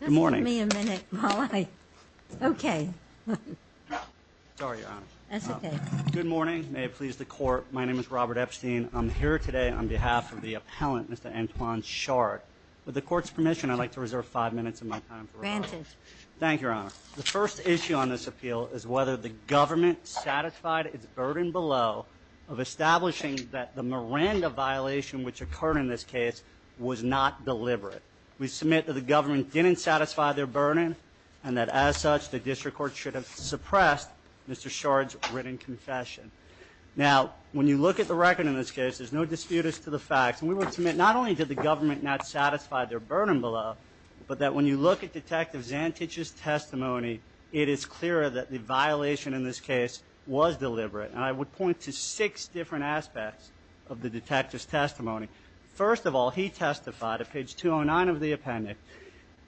Good morning, may it please the court, my name is Robert Epstein, I'm here today on behalf of the appellant, Mr. Antoine Shard. With the court's permission, I'd like to reserve five minutes of my time for reflection. Thank you, Your Honor. The first issue on this appeal is whether the government satisfied its burden below of establishing that the Miranda violation which occurred in this case was not deliberate. We submit that the government didn't satisfy their burden and that as such the district court should have suppressed Mr. Shard's written confession. Now when you look at the record in this case, there's no dispute as to the facts, and we would submit not only did the government not satisfy their burden below, but that when you look at Detective Zantich's testimony, it is clear that the violation in this case was deliberate. First of all, he testified at page 209 of the appendix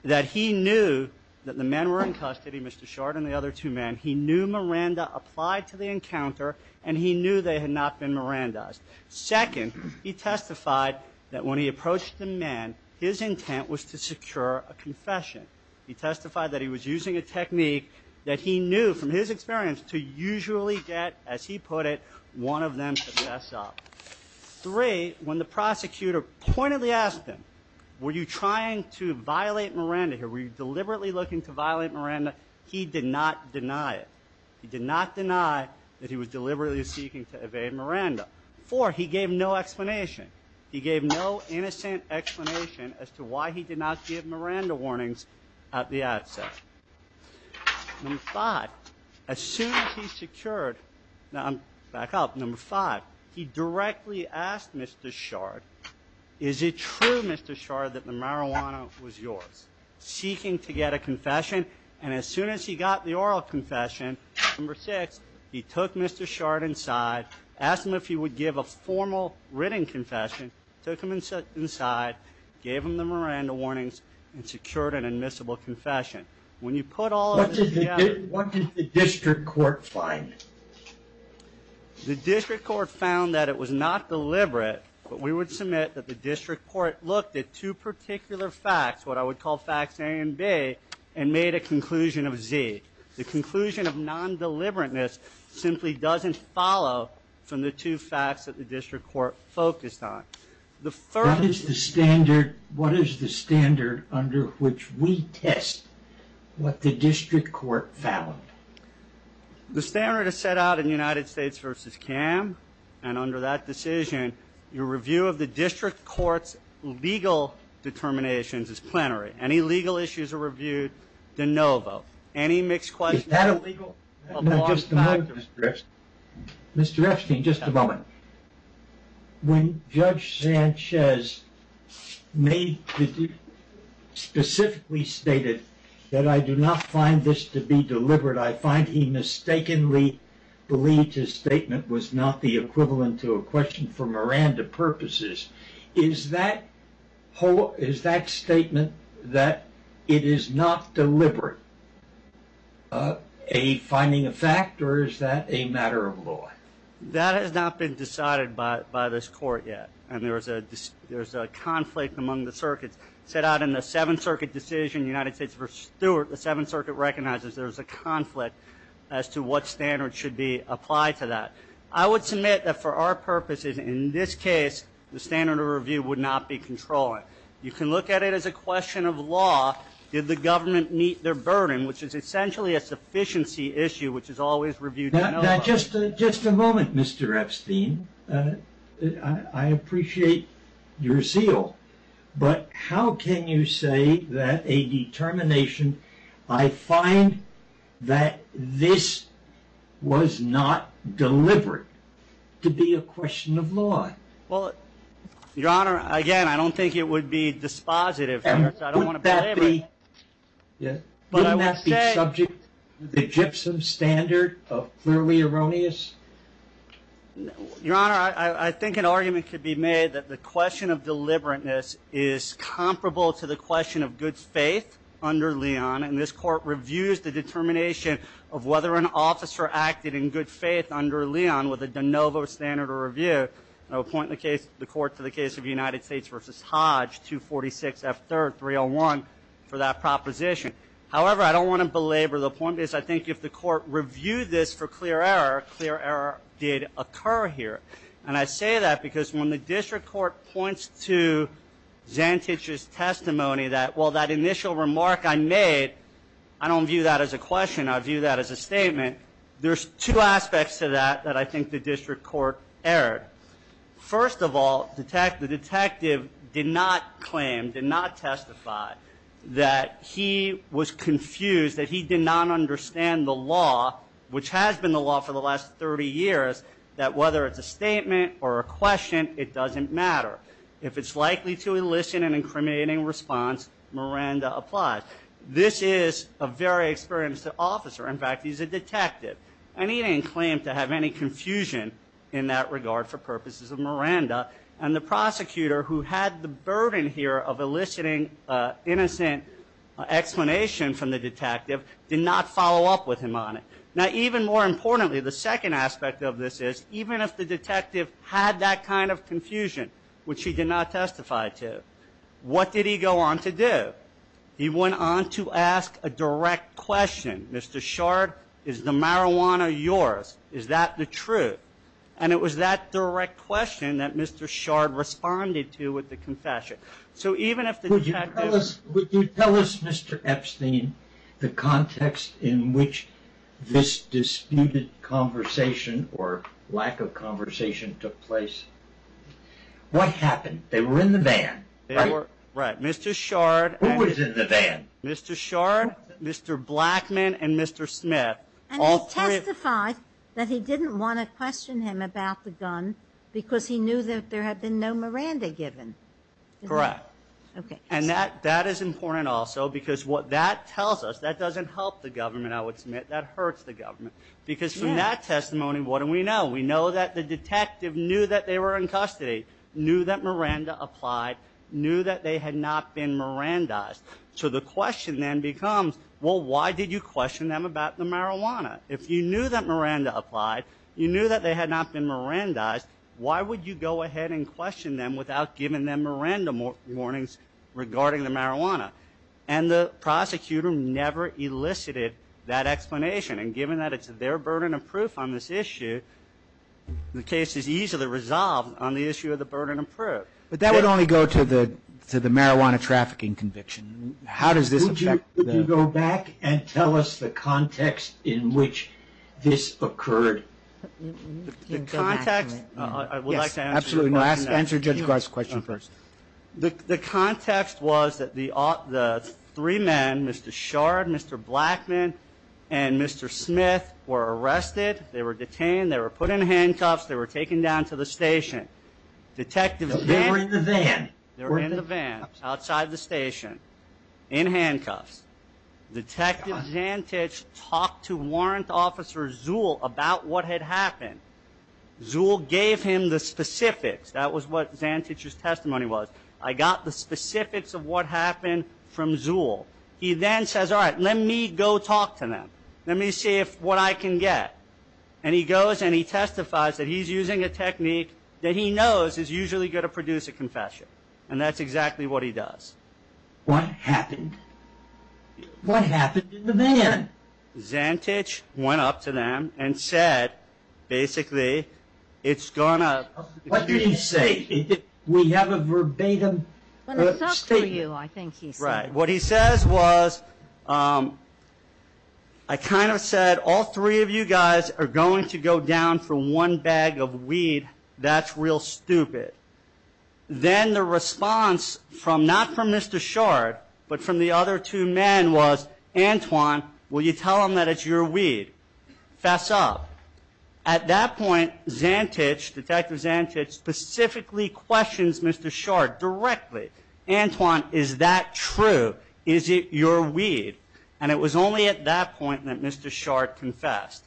that he knew that the men were in custody, Mr. Shard and the other two men. He knew Miranda applied to the encounter, and he knew they had not been Mirandized. Second, he testified that when he approached the men, his intent was to secure a confession. He testified that he was using a technique that he knew from his experience to usually get, as he put it, one of them to mess up. Three, when the prosecutor pointedly asked him, were you trying to violate Miranda here? Were you deliberately looking to violate Miranda? He did not deny it. He did not deny that he was deliberately seeking to evade Miranda. Four, he gave no explanation. He gave no innocent explanation as to why he did not give Miranda warnings at the outset. Number five, as soon as he secured, now I'm back up, number five, he directly asked Mr. Shard, is it true, Mr. Shard, that the marijuana was yours? Seeking to get a confession, and as soon as he got the oral confession, number six, he took Mr. Shard inside, asked him if he would give a formal written confession, took him inside, gave him the Miranda warnings, and secured an admissible confession. When you put all of this together- What did the district court find? The district court found that it was not deliberate, but we would submit that the district court looked at two particular facts, what I would call facts A and B, and made a conclusion of Z. The conclusion of non-deliberateness simply doesn't follow from the two facts that the district court focused on. What is the standard under which we test what the district court found? The standard is set out in United States v. CAM, and under that decision, your review of the district court's legal determinations is plenary. Any legal issues are reviewed, then no vote. Any mixed questions- Is that a legal- Mr. Epstein, just a moment. When Judge Sanchez made the- specifically stated that I do not find this to be deliberate, I find he mistakenly believed his statement was not the equivalent to a question for Miranda purposes. Is that statement that it is not deliberate a finding of fact, or is that a matter of law? That has not been decided by this court yet, and there is a conflict among the circuits. Set out in the Seventh Circuit decision, United States v. Stewart, the Seventh Circuit recognizes there is a conflict as to what standard should be applied to that. I would submit that for our purposes, in this case, the standard of review would not be controlling. You can look at it as a question of law. Did the government meet their burden, which is essentially a sufficiency issue, which is always reviewed- Now, just a moment, Mr. Epstein. I appreciate your zeal, but how can you say that a determination, I find that this was not deliberate, to be a question of law? Well, Your Honor, again, I don't think it would be dispositive, so I don't want to belabor it. But wouldn't that be subject to the gypsum standard of clearly erroneous? Your Honor, I think an argument could be made that the question of deliberateness is comparable to the question of good faith under Leon, and this court reviews the determination of whether an officer acted in good faith under Leon with a de novo standard of review, and I would point the court to the case of United States v. Hodge, 246 F. 3rd, 301, for that proposition. However, I don't want to belabor the point, because I think if the court reviewed this for clear error, clear error did occur here. And I say that because when the district court points to Zantich's testimony that, well, that initial remark I made, I don't view that as a question, I view that as a statement, there's two aspects to that that I think the district court erred. First of all, the detective did not claim, did not testify that he was confused, that he did not understand the law, which has been the law for the last 30 years, that whether it's a statement or a question, it doesn't matter. If it's likely to elicit an incriminating response, Miranda applies. This is a very experienced officer, in fact, he's a detective, and he didn't claim to have any confusion in that regard for purposes of Miranda, and the prosecutor, who had the burden here of eliciting innocent explanation from the detective, did not follow up with him on it. Now, even more importantly, the second aspect of this is, even if the detective had that kind of confusion, which he did not testify to, what did he go on to do? He went on to ask a direct question, Mr. Shard, is the marijuana yours? Is that the truth? And it was that direct question that Mr. Shard responded to with the confession. So even if the detective- Would you tell us, Mr. Epstein, the context in which this disputed conversation or lack of conversation took place? What happened? They were in the van, right? Right. Mr. Shard- Who was in the van? Mr. Shard, Mr. Blackman, and Mr. Smith, all three- And he testified that he didn't want to question him about the gun, because he knew that there had been no Miranda given, didn't he? Correct. Okay. And that is important also, because what that tells us, that doesn't help the government, I would submit, that hurts the government. Because from that testimony, what do we know? We know that the detective knew that they were in custody, knew that Miranda applied, knew that they had not been Mirandized. So the question then becomes, well, why did you question them about the marijuana? If you knew that Miranda applied, you knew that they had not been Mirandized, why would you go ahead and question them without giving them Miranda warnings regarding the marijuana? And the prosecutor never elicited that explanation. And given that it's their burden of proof on this issue, the case is easily resolved on the issue of the burden of proof. But that would only go to the marijuana trafficking conviction. How does this affect the- Would you go back and tell us the context in which this occurred? The context- I would like to answer the question. Yes, absolutely. No, answer Judge Gard's question first. The context was that the three men, Mr. Shard, Mr. Blackman, and Mr. Smith, were arrested. They were detained. They were put in handcuffs. They were taken down to the station. Detective Zantich- They were in the van. They were in the van, outside the station, in handcuffs. Detective Zantich talked to Warrant Officer Zuhl about what had happened. Zuhl gave him the specifics. That was what Zantich's testimony was. I got the specifics of what happened from Zuhl. He then says, all right, let me go talk to them. Let me see what I can get. He goes and he testifies that he's using a technique that he knows is usually going to produce a confession. That's exactly what he does. What happened? What happened in the van? Zantich went up to them and said, basically, it's going to- What did he say? We have a verbatim statement. When it's up to you, I think he said. What he says was, I kind of said, all three of you guys are going to go down for one bag of weed. That's real stupid. Then the response from, not from Mr. Shard, but from the other two men was, Antoine, will you tell them that it's your weed? Fess up. At that point, Zantich, Detective Zantich, specifically questions Mr. Shard directly. Antoine, is that true? Is it your weed? It was only at that point that Mr. Shard confessed.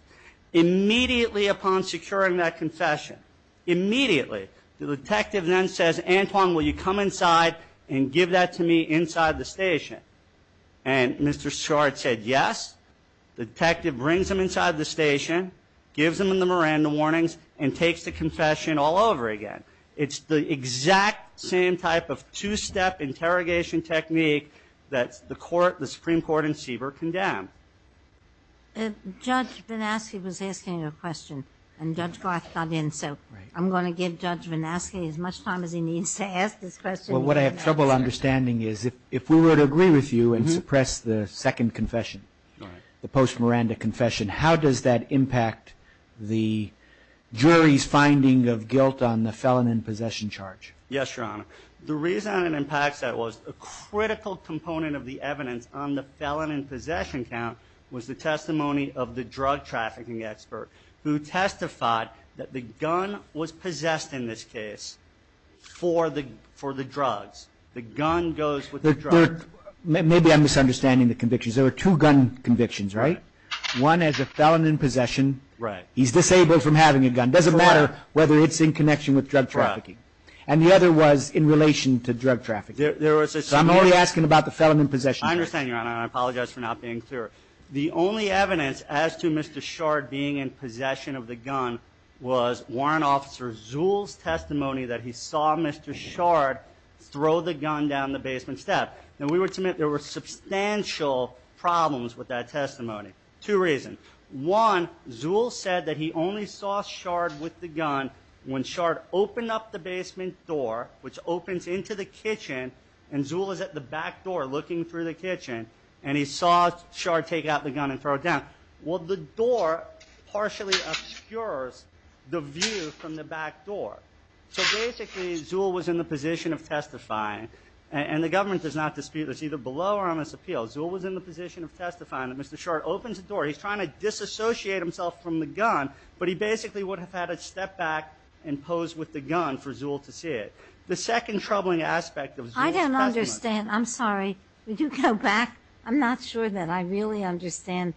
Immediately upon securing that confession, immediately, the detective then says, Antoine, will you come inside and give that to me inside the station? Mr. Shard said, yes. The detective brings him inside the station, gives him the Miranda warnings, and takes the confession all over again. It's the exact same type of two-step interrogation technique that the Supreme Court in Seaver condemned. Judge Vanasky was asking a question, and Judge Garth got in, so I'm going to give Judge Vanasky as much time as he needs to ask this question. What I have trouble understanding is, if we were to agree with you and suppress the second confession, the post-Miranda confession, how does that impact the jury's finding of guilt on the felon in possession charge? Yes, Your Honor. The reason it impacts that was a critical component of the evidence on the felon in possession count was the testimony of the drug trafficking expert, who testified that the gun was possessed in this case for the drugs. The gun goes with the drugs. Maybe I'm misunderstanding the convictions. There were two gun convictions, right? One as a felon in possession. He's disabled from having a gun. And it doesn't matter whether it's in connection with drug trafficking. And the other was in relation to drug trafficking. There was a... So I'm only asking about the felon in possession. I understand, Your Honor. And I apologize for not being clear. The only evidence as to Mr. Shard being in possession of the gun was Warrant Officer Zuhl's testimony that he saw Mr. Shard throw the gun down the basement step. Now, we would submit there were substantial problems with that testimony, two reasons. One, Zuhl said that he only saw Shard with the gun when Shard opened up the basement door, which opens into the kitchen, and Zuhl was at the back door looking through the kitchen, and he saw Shard take out the gun and throw it down. Well, the door partially obscures the view from the back door. So basically, Zuhl was in the position of testifying, and the government does not dispute this, either below or on this appeal. Zuhl was in the position of testifying that Mr. Shard opens the door. He's trying to disassociate himself from the gun, but he basically would have had to step back and pose with the gun for Zuhl to see it. The second troubling aspect of Zuhl's testimony... I don't understand. I'm sorry. Would you go back? I'm not sure that I really understand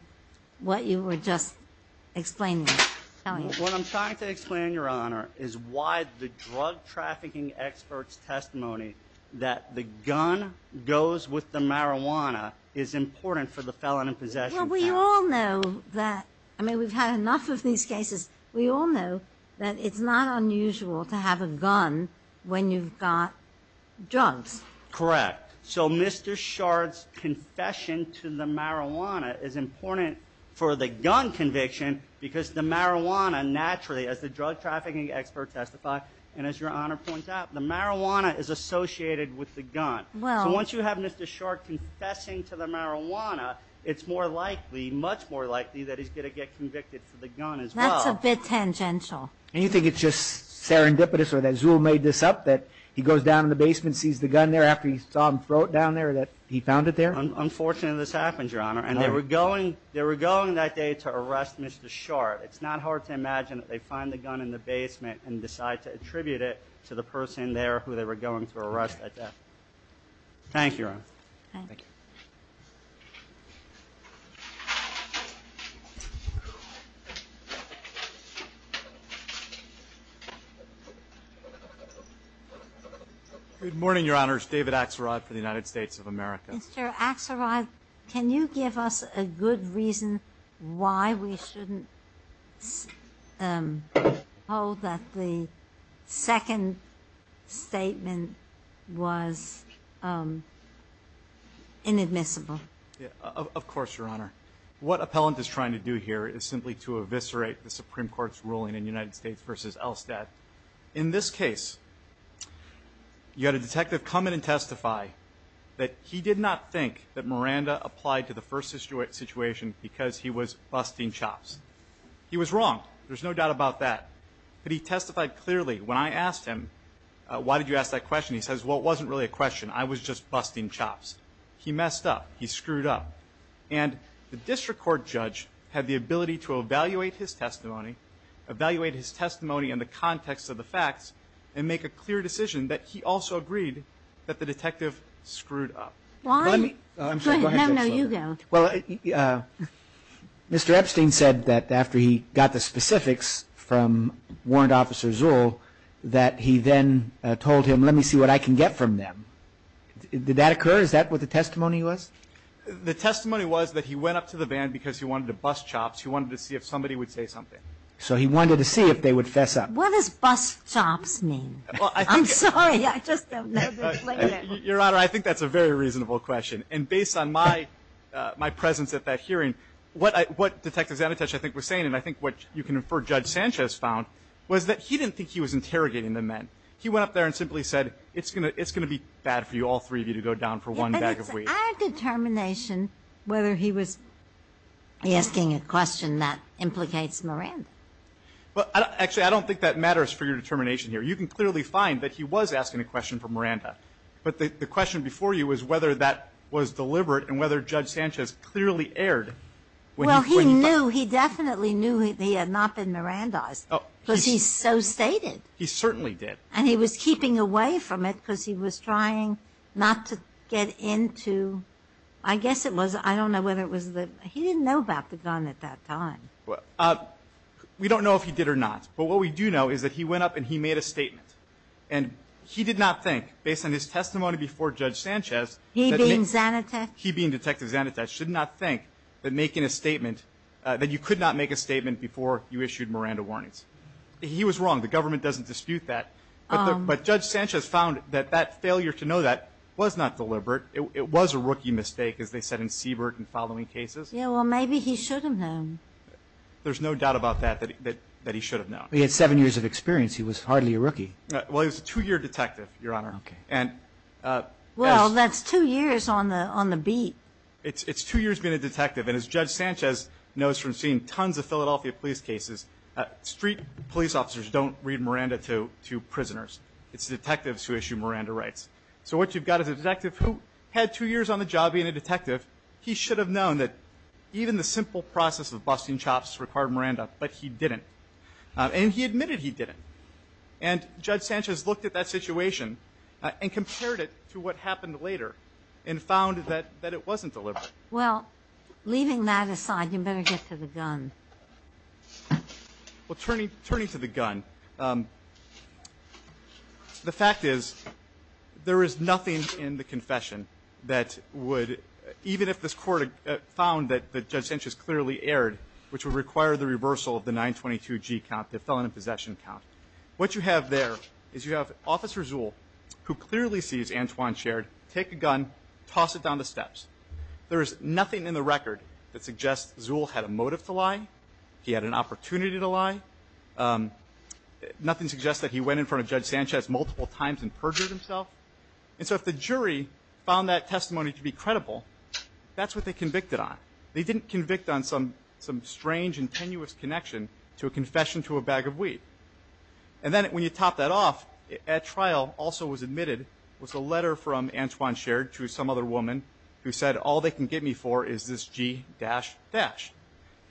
what you were just explaining. What I'm trying to explain, Your Honor, is why the drug-trafficking expert's testimony that the gun goes with the marijuana is important for the felon in possession. Well, we all know that, I mean, we've had enough of these cases. We all know that it's not unusual to have a gun when you've got drugs. Correct. So, Mr. Shard's confession to the marijuana is important for the gun conviction because the marijuana naturally, as the drug-trafficking expert testified, and as Your Honor points out, the marijuana is associated with the gun. So, once you have Mr. Shard confessing to the marijuana, it's more likely, much more likely that he's going to get convicted for the gun as well. That's a bit tangential. And you think it's just serendipitous or that Zuhl made this up, that he goes down in the basement and sees the gun there after he saw him throw it down there, that he found it there? Unfortunately, this happens, Your Honor, and they were going that day to arrest Mr. Shard. It's not hard to imagine that they find the gun in the basement and decide to attribute it to the person there who they were going to arrest at death. Thank you, Your Honor. Thank you. Good morning, Your Honor. It's David Axelrod for the United States of America. Mr. Axelrod, can you give us a good reason why we shouldn't hold that the second statement was inadmissible? Of course, Your Honor. What appellant is trying to do here is simply to eviscerate the Supreme Court's ruling in United States v. Elstad. In this case, you had a detective come in and testify that he did not think that Miranda applied to the first situation because he was busting chops. He was wrong. There's no doubt about that. But he testified clearly. When I asked him, why did you ask that question, he says, well, it wasn't really a question. I was just busting chops. He messed up. He screwed up. And the district court judge had the ability to evaluate his testimony, evaluate his testimony in the context of the facts, and make a clear decision that he also agreed that the detective screwed up. Why? Go ahead. No, no. You go. Well, Mr. Epstein said that after he got the specifics from warrant officer Zuhl that he then told him, let me see what I can get from them. Did that occur? Is that what the testimony was? The testimony was that he went up to the van because he wanted to bust chops. He wanted to see if somebody would say something. So he wanted to see if they would fess up. What does bust chops mean? I'm sorry. I just don't know the explanation. Your Honor, I think that's a very reasonable question. And based on my presence at that hearing, what Detective Zanitesh, I think, was saying, and I think what you can infer Judge Sanchez found, was that he didn't think he was interrogating the men. He went up there and simply said, it's going to be bad for you, all three of you, to go down for one bag of weed. Our determination, whether he was asking a question that implicates Miranda. Well, actually, I don't think that matters for your determination here. You can clearly find that he was asking a question for Miranda. But the question before you was whether that was deliberate and whether Judge Sanchez clearly erred when he put him up. Well, he knew, he definitely knew that he had not been Mirandized, because he so stated. He certainly did. And he was keeping away from it because he was trying not to get into, I guess it was, I don't know whether it was the, he didn't know about the gun at that time. We don't know if he did or not. But what we do know is that he went up and he made a statement. And he did not think, based on his testimony before Judge Sanchez, that he being Detective Zanitesh should not think that making a statement, that you could not make a statement before you issued Miranda warnings. He was wrong. The government doesn't dispute that. But Judge Sanchez found that that failure to know that was not deliberate. It was a rookie mistake, as they said in Siebert and following cases. Yeah, well, maybe he should have known. There's no doubt about that, that he should have known. He had seven years of experience. He was hardly a rookie. Well, he was a two-year detective, Your Honor. Okay. Well, that's two years on the beat. It's two years being a detective. And as Judge Sanchez knows from seeing tons of Philadelphia police cases, street police officers don't read Miranda to prisoners. It's detectives who issue Miranda rights. So what you've got is a detective who had two years on the job being a detective. He should have known that even the simple process of busting chops required Miranda, but he didn't. And he admitted he didn't. And Judge Sanchez looked at that situation and compared it to what happened later and found that it wasn't deliberate. Well, leaving that aside, you better get to the gun. Well, turning to the gun, the fact is, there is nothing in the confession that would, even if this court found that Judge Sanchez clearly erred, which would require the reversal of the 922G count, the felon in possession count. What you have there is you have Officer Zuhl, who clearly sees Antoine Shared take a gun, toss it down the steps. There is nothing in the record that suggests Zuhl had a motive to lie. He had an opportunity to lie. Nothing suggests that he went in front of Judge Sanchez multiple times and perjured himself. And so if the jury found that testimony to be credible, that's what they convicted on. They didn't convict on some strange and tenuous connection to a confession to a bag of wheat. And then when you top that off, at trial also was admitted was a letter from Antoine Shared to some other woman who said, all they can get me for is this G-dash-dash.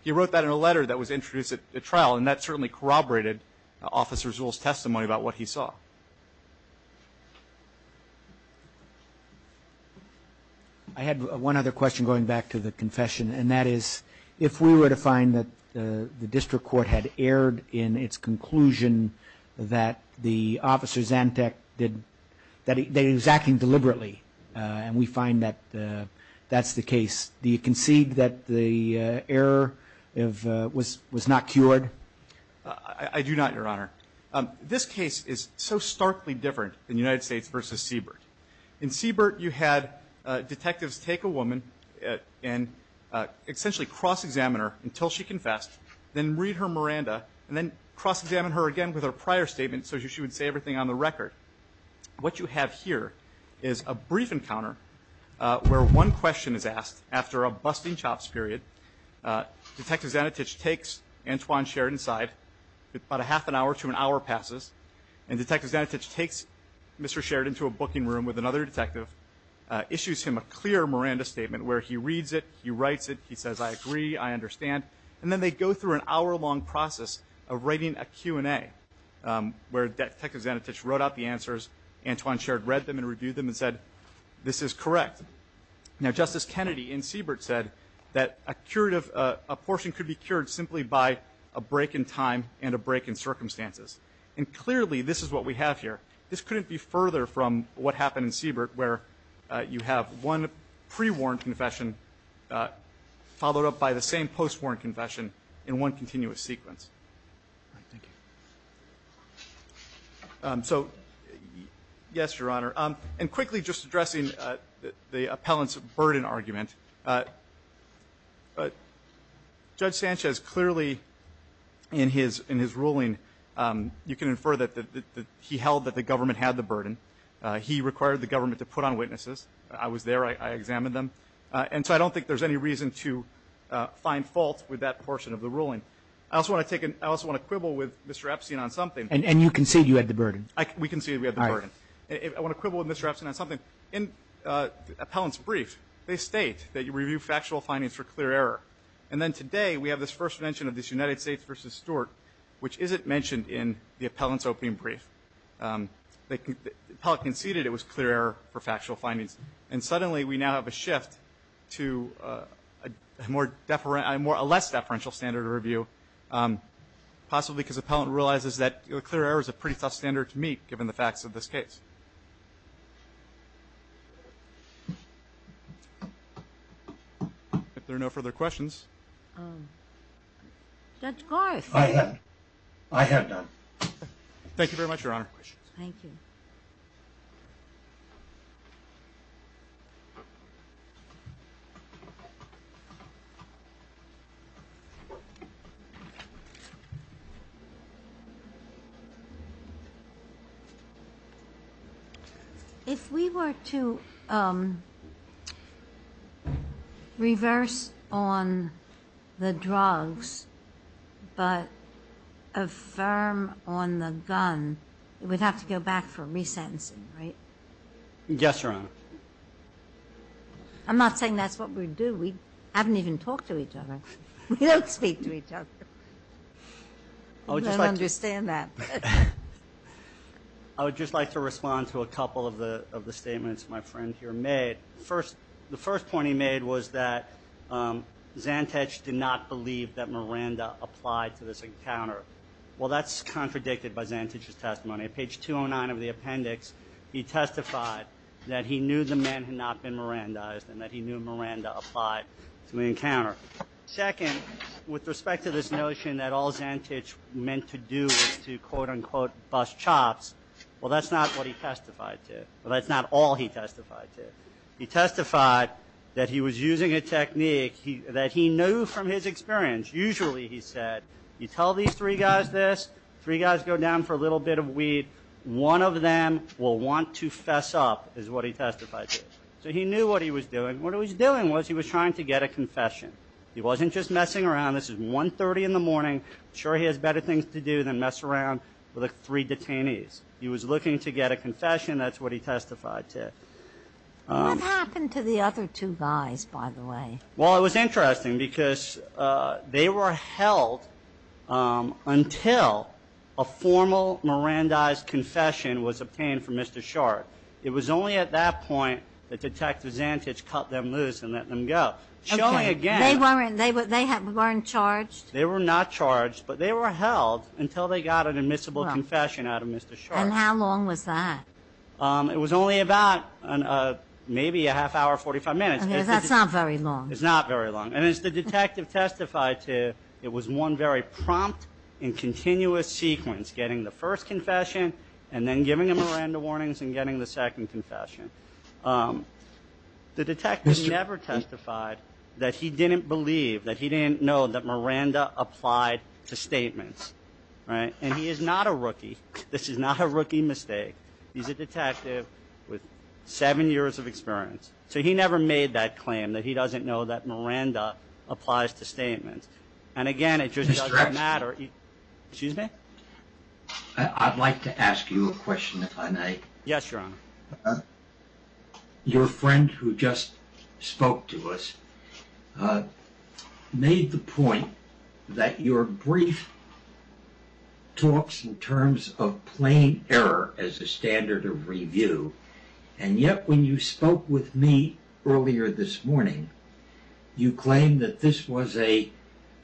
He wrote that in a letter that was introduced at trial, and that certainly corroborated Officer Zuhl's testimony about what he saw. I had one other question going back to the confession, and that is, if we were to find that the district court had erred in its conclusion that the Officer Zantac did, that he was acting deliberately, and we find that that's the case, do you concede that the error was not cured? I do not, Your Honor. This case is so starkly different than United States v. Siebert. In Siebert, you had detectives take a woman and essentially cross-examine her until she confessed, then read her Miranda, and then cross-examine her again with her prior statement so she would say everything on the record. What you have here is a brief encounter where one question is asked after a busting-chops period. Detective Zanatic takes Antoine Shared inside, about a half an hour to an hour passes, and Detective Zanatic takes Mr. Shared into a booking room with another detective, issues him a clear Miranda statement where he reads it, he writes it, he says, I agree, I understand, and then they go through an hour-long process of writing a Q&A where Detective Zanatic wrote out the answers, Antoine Shared read them and reviewed them and said, this is correct. Now Justice Kennedy in Siebert said that a portion could be cured simply by a break in time and a break in circumstances. And clearly this is what we have here. This couldn't be further from what happened in Siebert where you have one pre-warned confession followed up by the same post-warned confession in one continuous sequence. So, yes, Your Honor, and quickly just addressing the appellant's burden argument. Judge Sanchez clearly in his ruling, you can infer that he held that the government had the burden. He required the government to put on witnesses. I was there. I examined them. And so I don't think there's any reason to find fault with that portion of the ruling. I also want to quibble with Mr. Epstein on something. And you concede you had the burden. We concede we had the burden. I want to quibble with Mr. Epstein on something. In the appellant's brief, they state that you review factual findings for clear error. And then today we have this first mention of this United States v. Stewart, which isn't mentioned in the appellant's opening brief. The appellant conceded it was clear error for factual findings. And suddenly we now have a shift to a less deferential standard of review, possibly because the appellant realizes that clear error is a pretty tough standard to meet, given the facts of this case. If there are no further questions. Judge Garth. I have none. Thank you very much, Your Honor. Thank you. If we were to reverse on the drugs but affirm on the gun, we'd have to go back for re-sentencing, right? Yes, Your Honor. I'm not saying that's what we do. We haven't even talked to each other. We don't speak to each other. I don't understand that. I would just like to respond to a couple of the statements my friend here made. The first point he made was that Zantich did not believe that Miranda Well, that's contradicted by Zantich's testimony. Page 209 of the appendix, he testified that he knew the man had not been Mirandized and that he knew Miranda applied to the encounter. Second, with respect to this notion that all Zantich meant to do was to, quote unquote, bust chops, well, that's not what he testified to. Well, that's not all he testified to. He testified that he was using a technique that he knew from his experience. Usually, he said, you tell these three guys this, three guys go down for a little bit of weed, one of them will want to fess up, is what he testified to. So he knew what he was doing. What he was doing was he was trying to get a confession. He wasn't just messing around. This is 1.30 in the morning. Sure, he has better things to do than mess around with three detainees. He was looking to get a confession. That's what he testified to. What happened to the other two guys, by the way? Well, it was interesting because they were held until a formal Mirandized confession was obtained from Mr. Short. It was only at that point that Detective Zantich cut them loose and let them go. Showing again- They weren't charged? They were not charged, but they were held until they got an admissible confession out of Mr. Short. And how long was that? It was only about maybe a half hour, 45 minutes. Okay, that's not very long. It's not very long. And as the detective testified to, it was one very prompt and continuous sequence, getting the first confession and then giving him Miranda warnings and getting the second confession. The detective never testified that he didn't believe, that he didn't know that Miranda applied to statements. And he is not a rookie. This is not a rookie mistake. He's a detective with seven years of experience. So he never made that claim that he doesn't know that Miranda applies to statements. And again, it just doesn't matter. Excuse me? I'd like to ask you a question if I may. Yes, Your Honor. Your friend who just spoke to us made the point that your brief talks in terms of plain error as a standard of review. And yet when you spoke with me earlier this morning, you claimed that this was a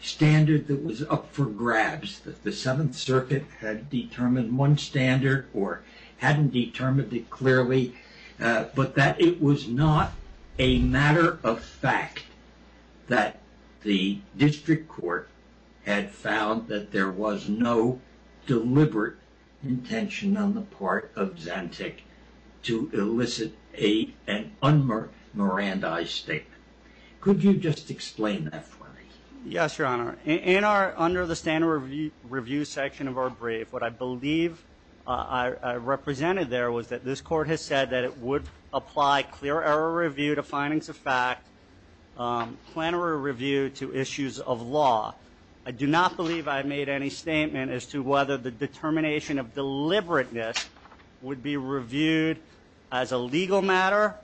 standard that was up for grabs. That the Seventh Circuit had determined one standard or hadn't determined it clearly. But that it was not a matter of fact that the district court had found that there was no deliberate intention on the part of Zantac to elicit an un-Mirandaized statement. Could you just explain that for me? Yes, Your Honor. In our, under the standard review section of our brief, what I believe I represented there was that this court has said that it would apply clear error review to findings of fact, plenary review to issues of law. I do not believe I made any statement as to whether the determination of deliberateness would be reviewed as a legal matter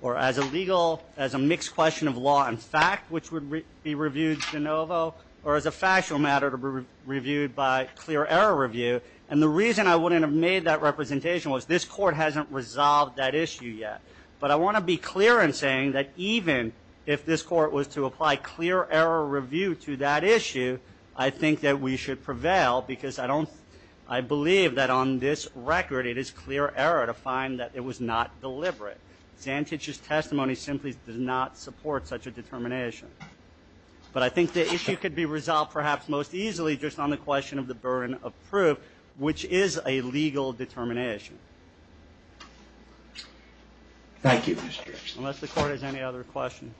or as a legal, as a mixed question of law and fact, which would be reviewed de novo. Or as a factual matter to be reviewed by clear error review. And the reason I wouldn't have made that representation was this court hasn't resolved that issue yet. But I want to be clear in saying that even if this court was to apply clear error review to that issue, I think that we should prevail because I don't, I believe that on this record it is clear error to find that it was not deliberate. Zantac's testimony simply does not support such a determination. But I think the issue could be resolved perhaps most easily just on the question of the burden of proof, which is a legal determination. Thank you, Mr. Erickson. Unless the court has any other questions.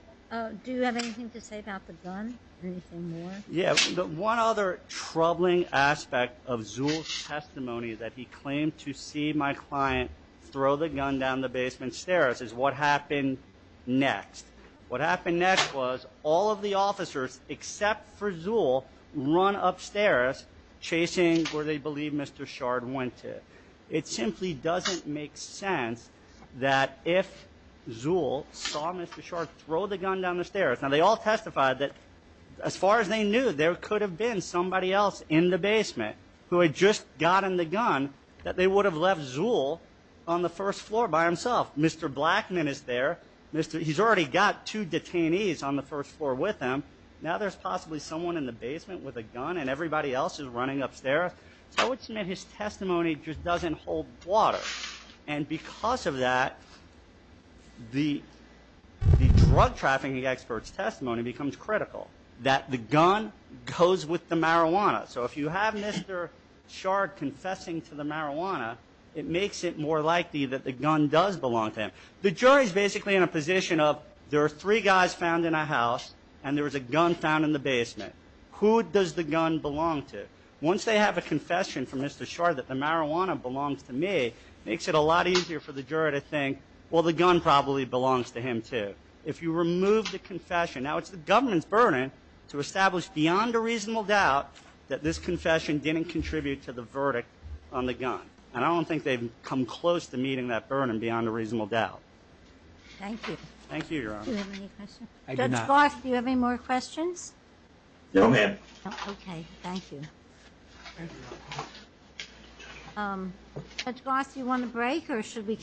Do you have anything to say about the gun or anything more? Yeah, one other troubling aspect of Zul's testimony is that he claimed to see my client throw the gun down the basement stairs is what happened next. What happened next was all of the officers except for Zul run upstairs chasing where they believe Mr. Shard went to. It simply doesn't make sense that if Zul saw Mr. Shard throw the gun down the stairs, and they all testified that as far as they knew there could have been somebody else in the basement who had just gotten the gun that they would have left Zul on the first floor by himself. Mr. Blackman is there, he's already got two detainees on the first floor with him. Now there's possibly someone in the basement with a gun and everybody else is running upstairs. I would submit his testimony just doesn't hold water. And because of that, the drug trafficking expert's testimony becomes critical. That the gun goes with the marijuana. So if you have Mr. Shard confessing to the marijuana, it makes it more likely that the gun does belong to him. The jury's basically in a position of there are three guys found in a house and there was a gun found in the basement. Who does the gun belong to? Once they have a confession from Mr. Shard that the marijuana belongs to me, makes it a lot easier for the jury to think, well, the gun probably belongs to him too. If you remove the confession, now it's the government's burden to establish beyond a reasonable doubt that this confession didn't contribute to the verdict on the gun. And I don't think they've come close to meeting that burden beyond a reasonable doubt. Thank you. Thank you, Your Honor. Do you have any questions? Judge Barth, do you have any more questions? No, ma'am. Okay, thank you. Thank you, Your Honor. Judge Goss, do you want a break or should we?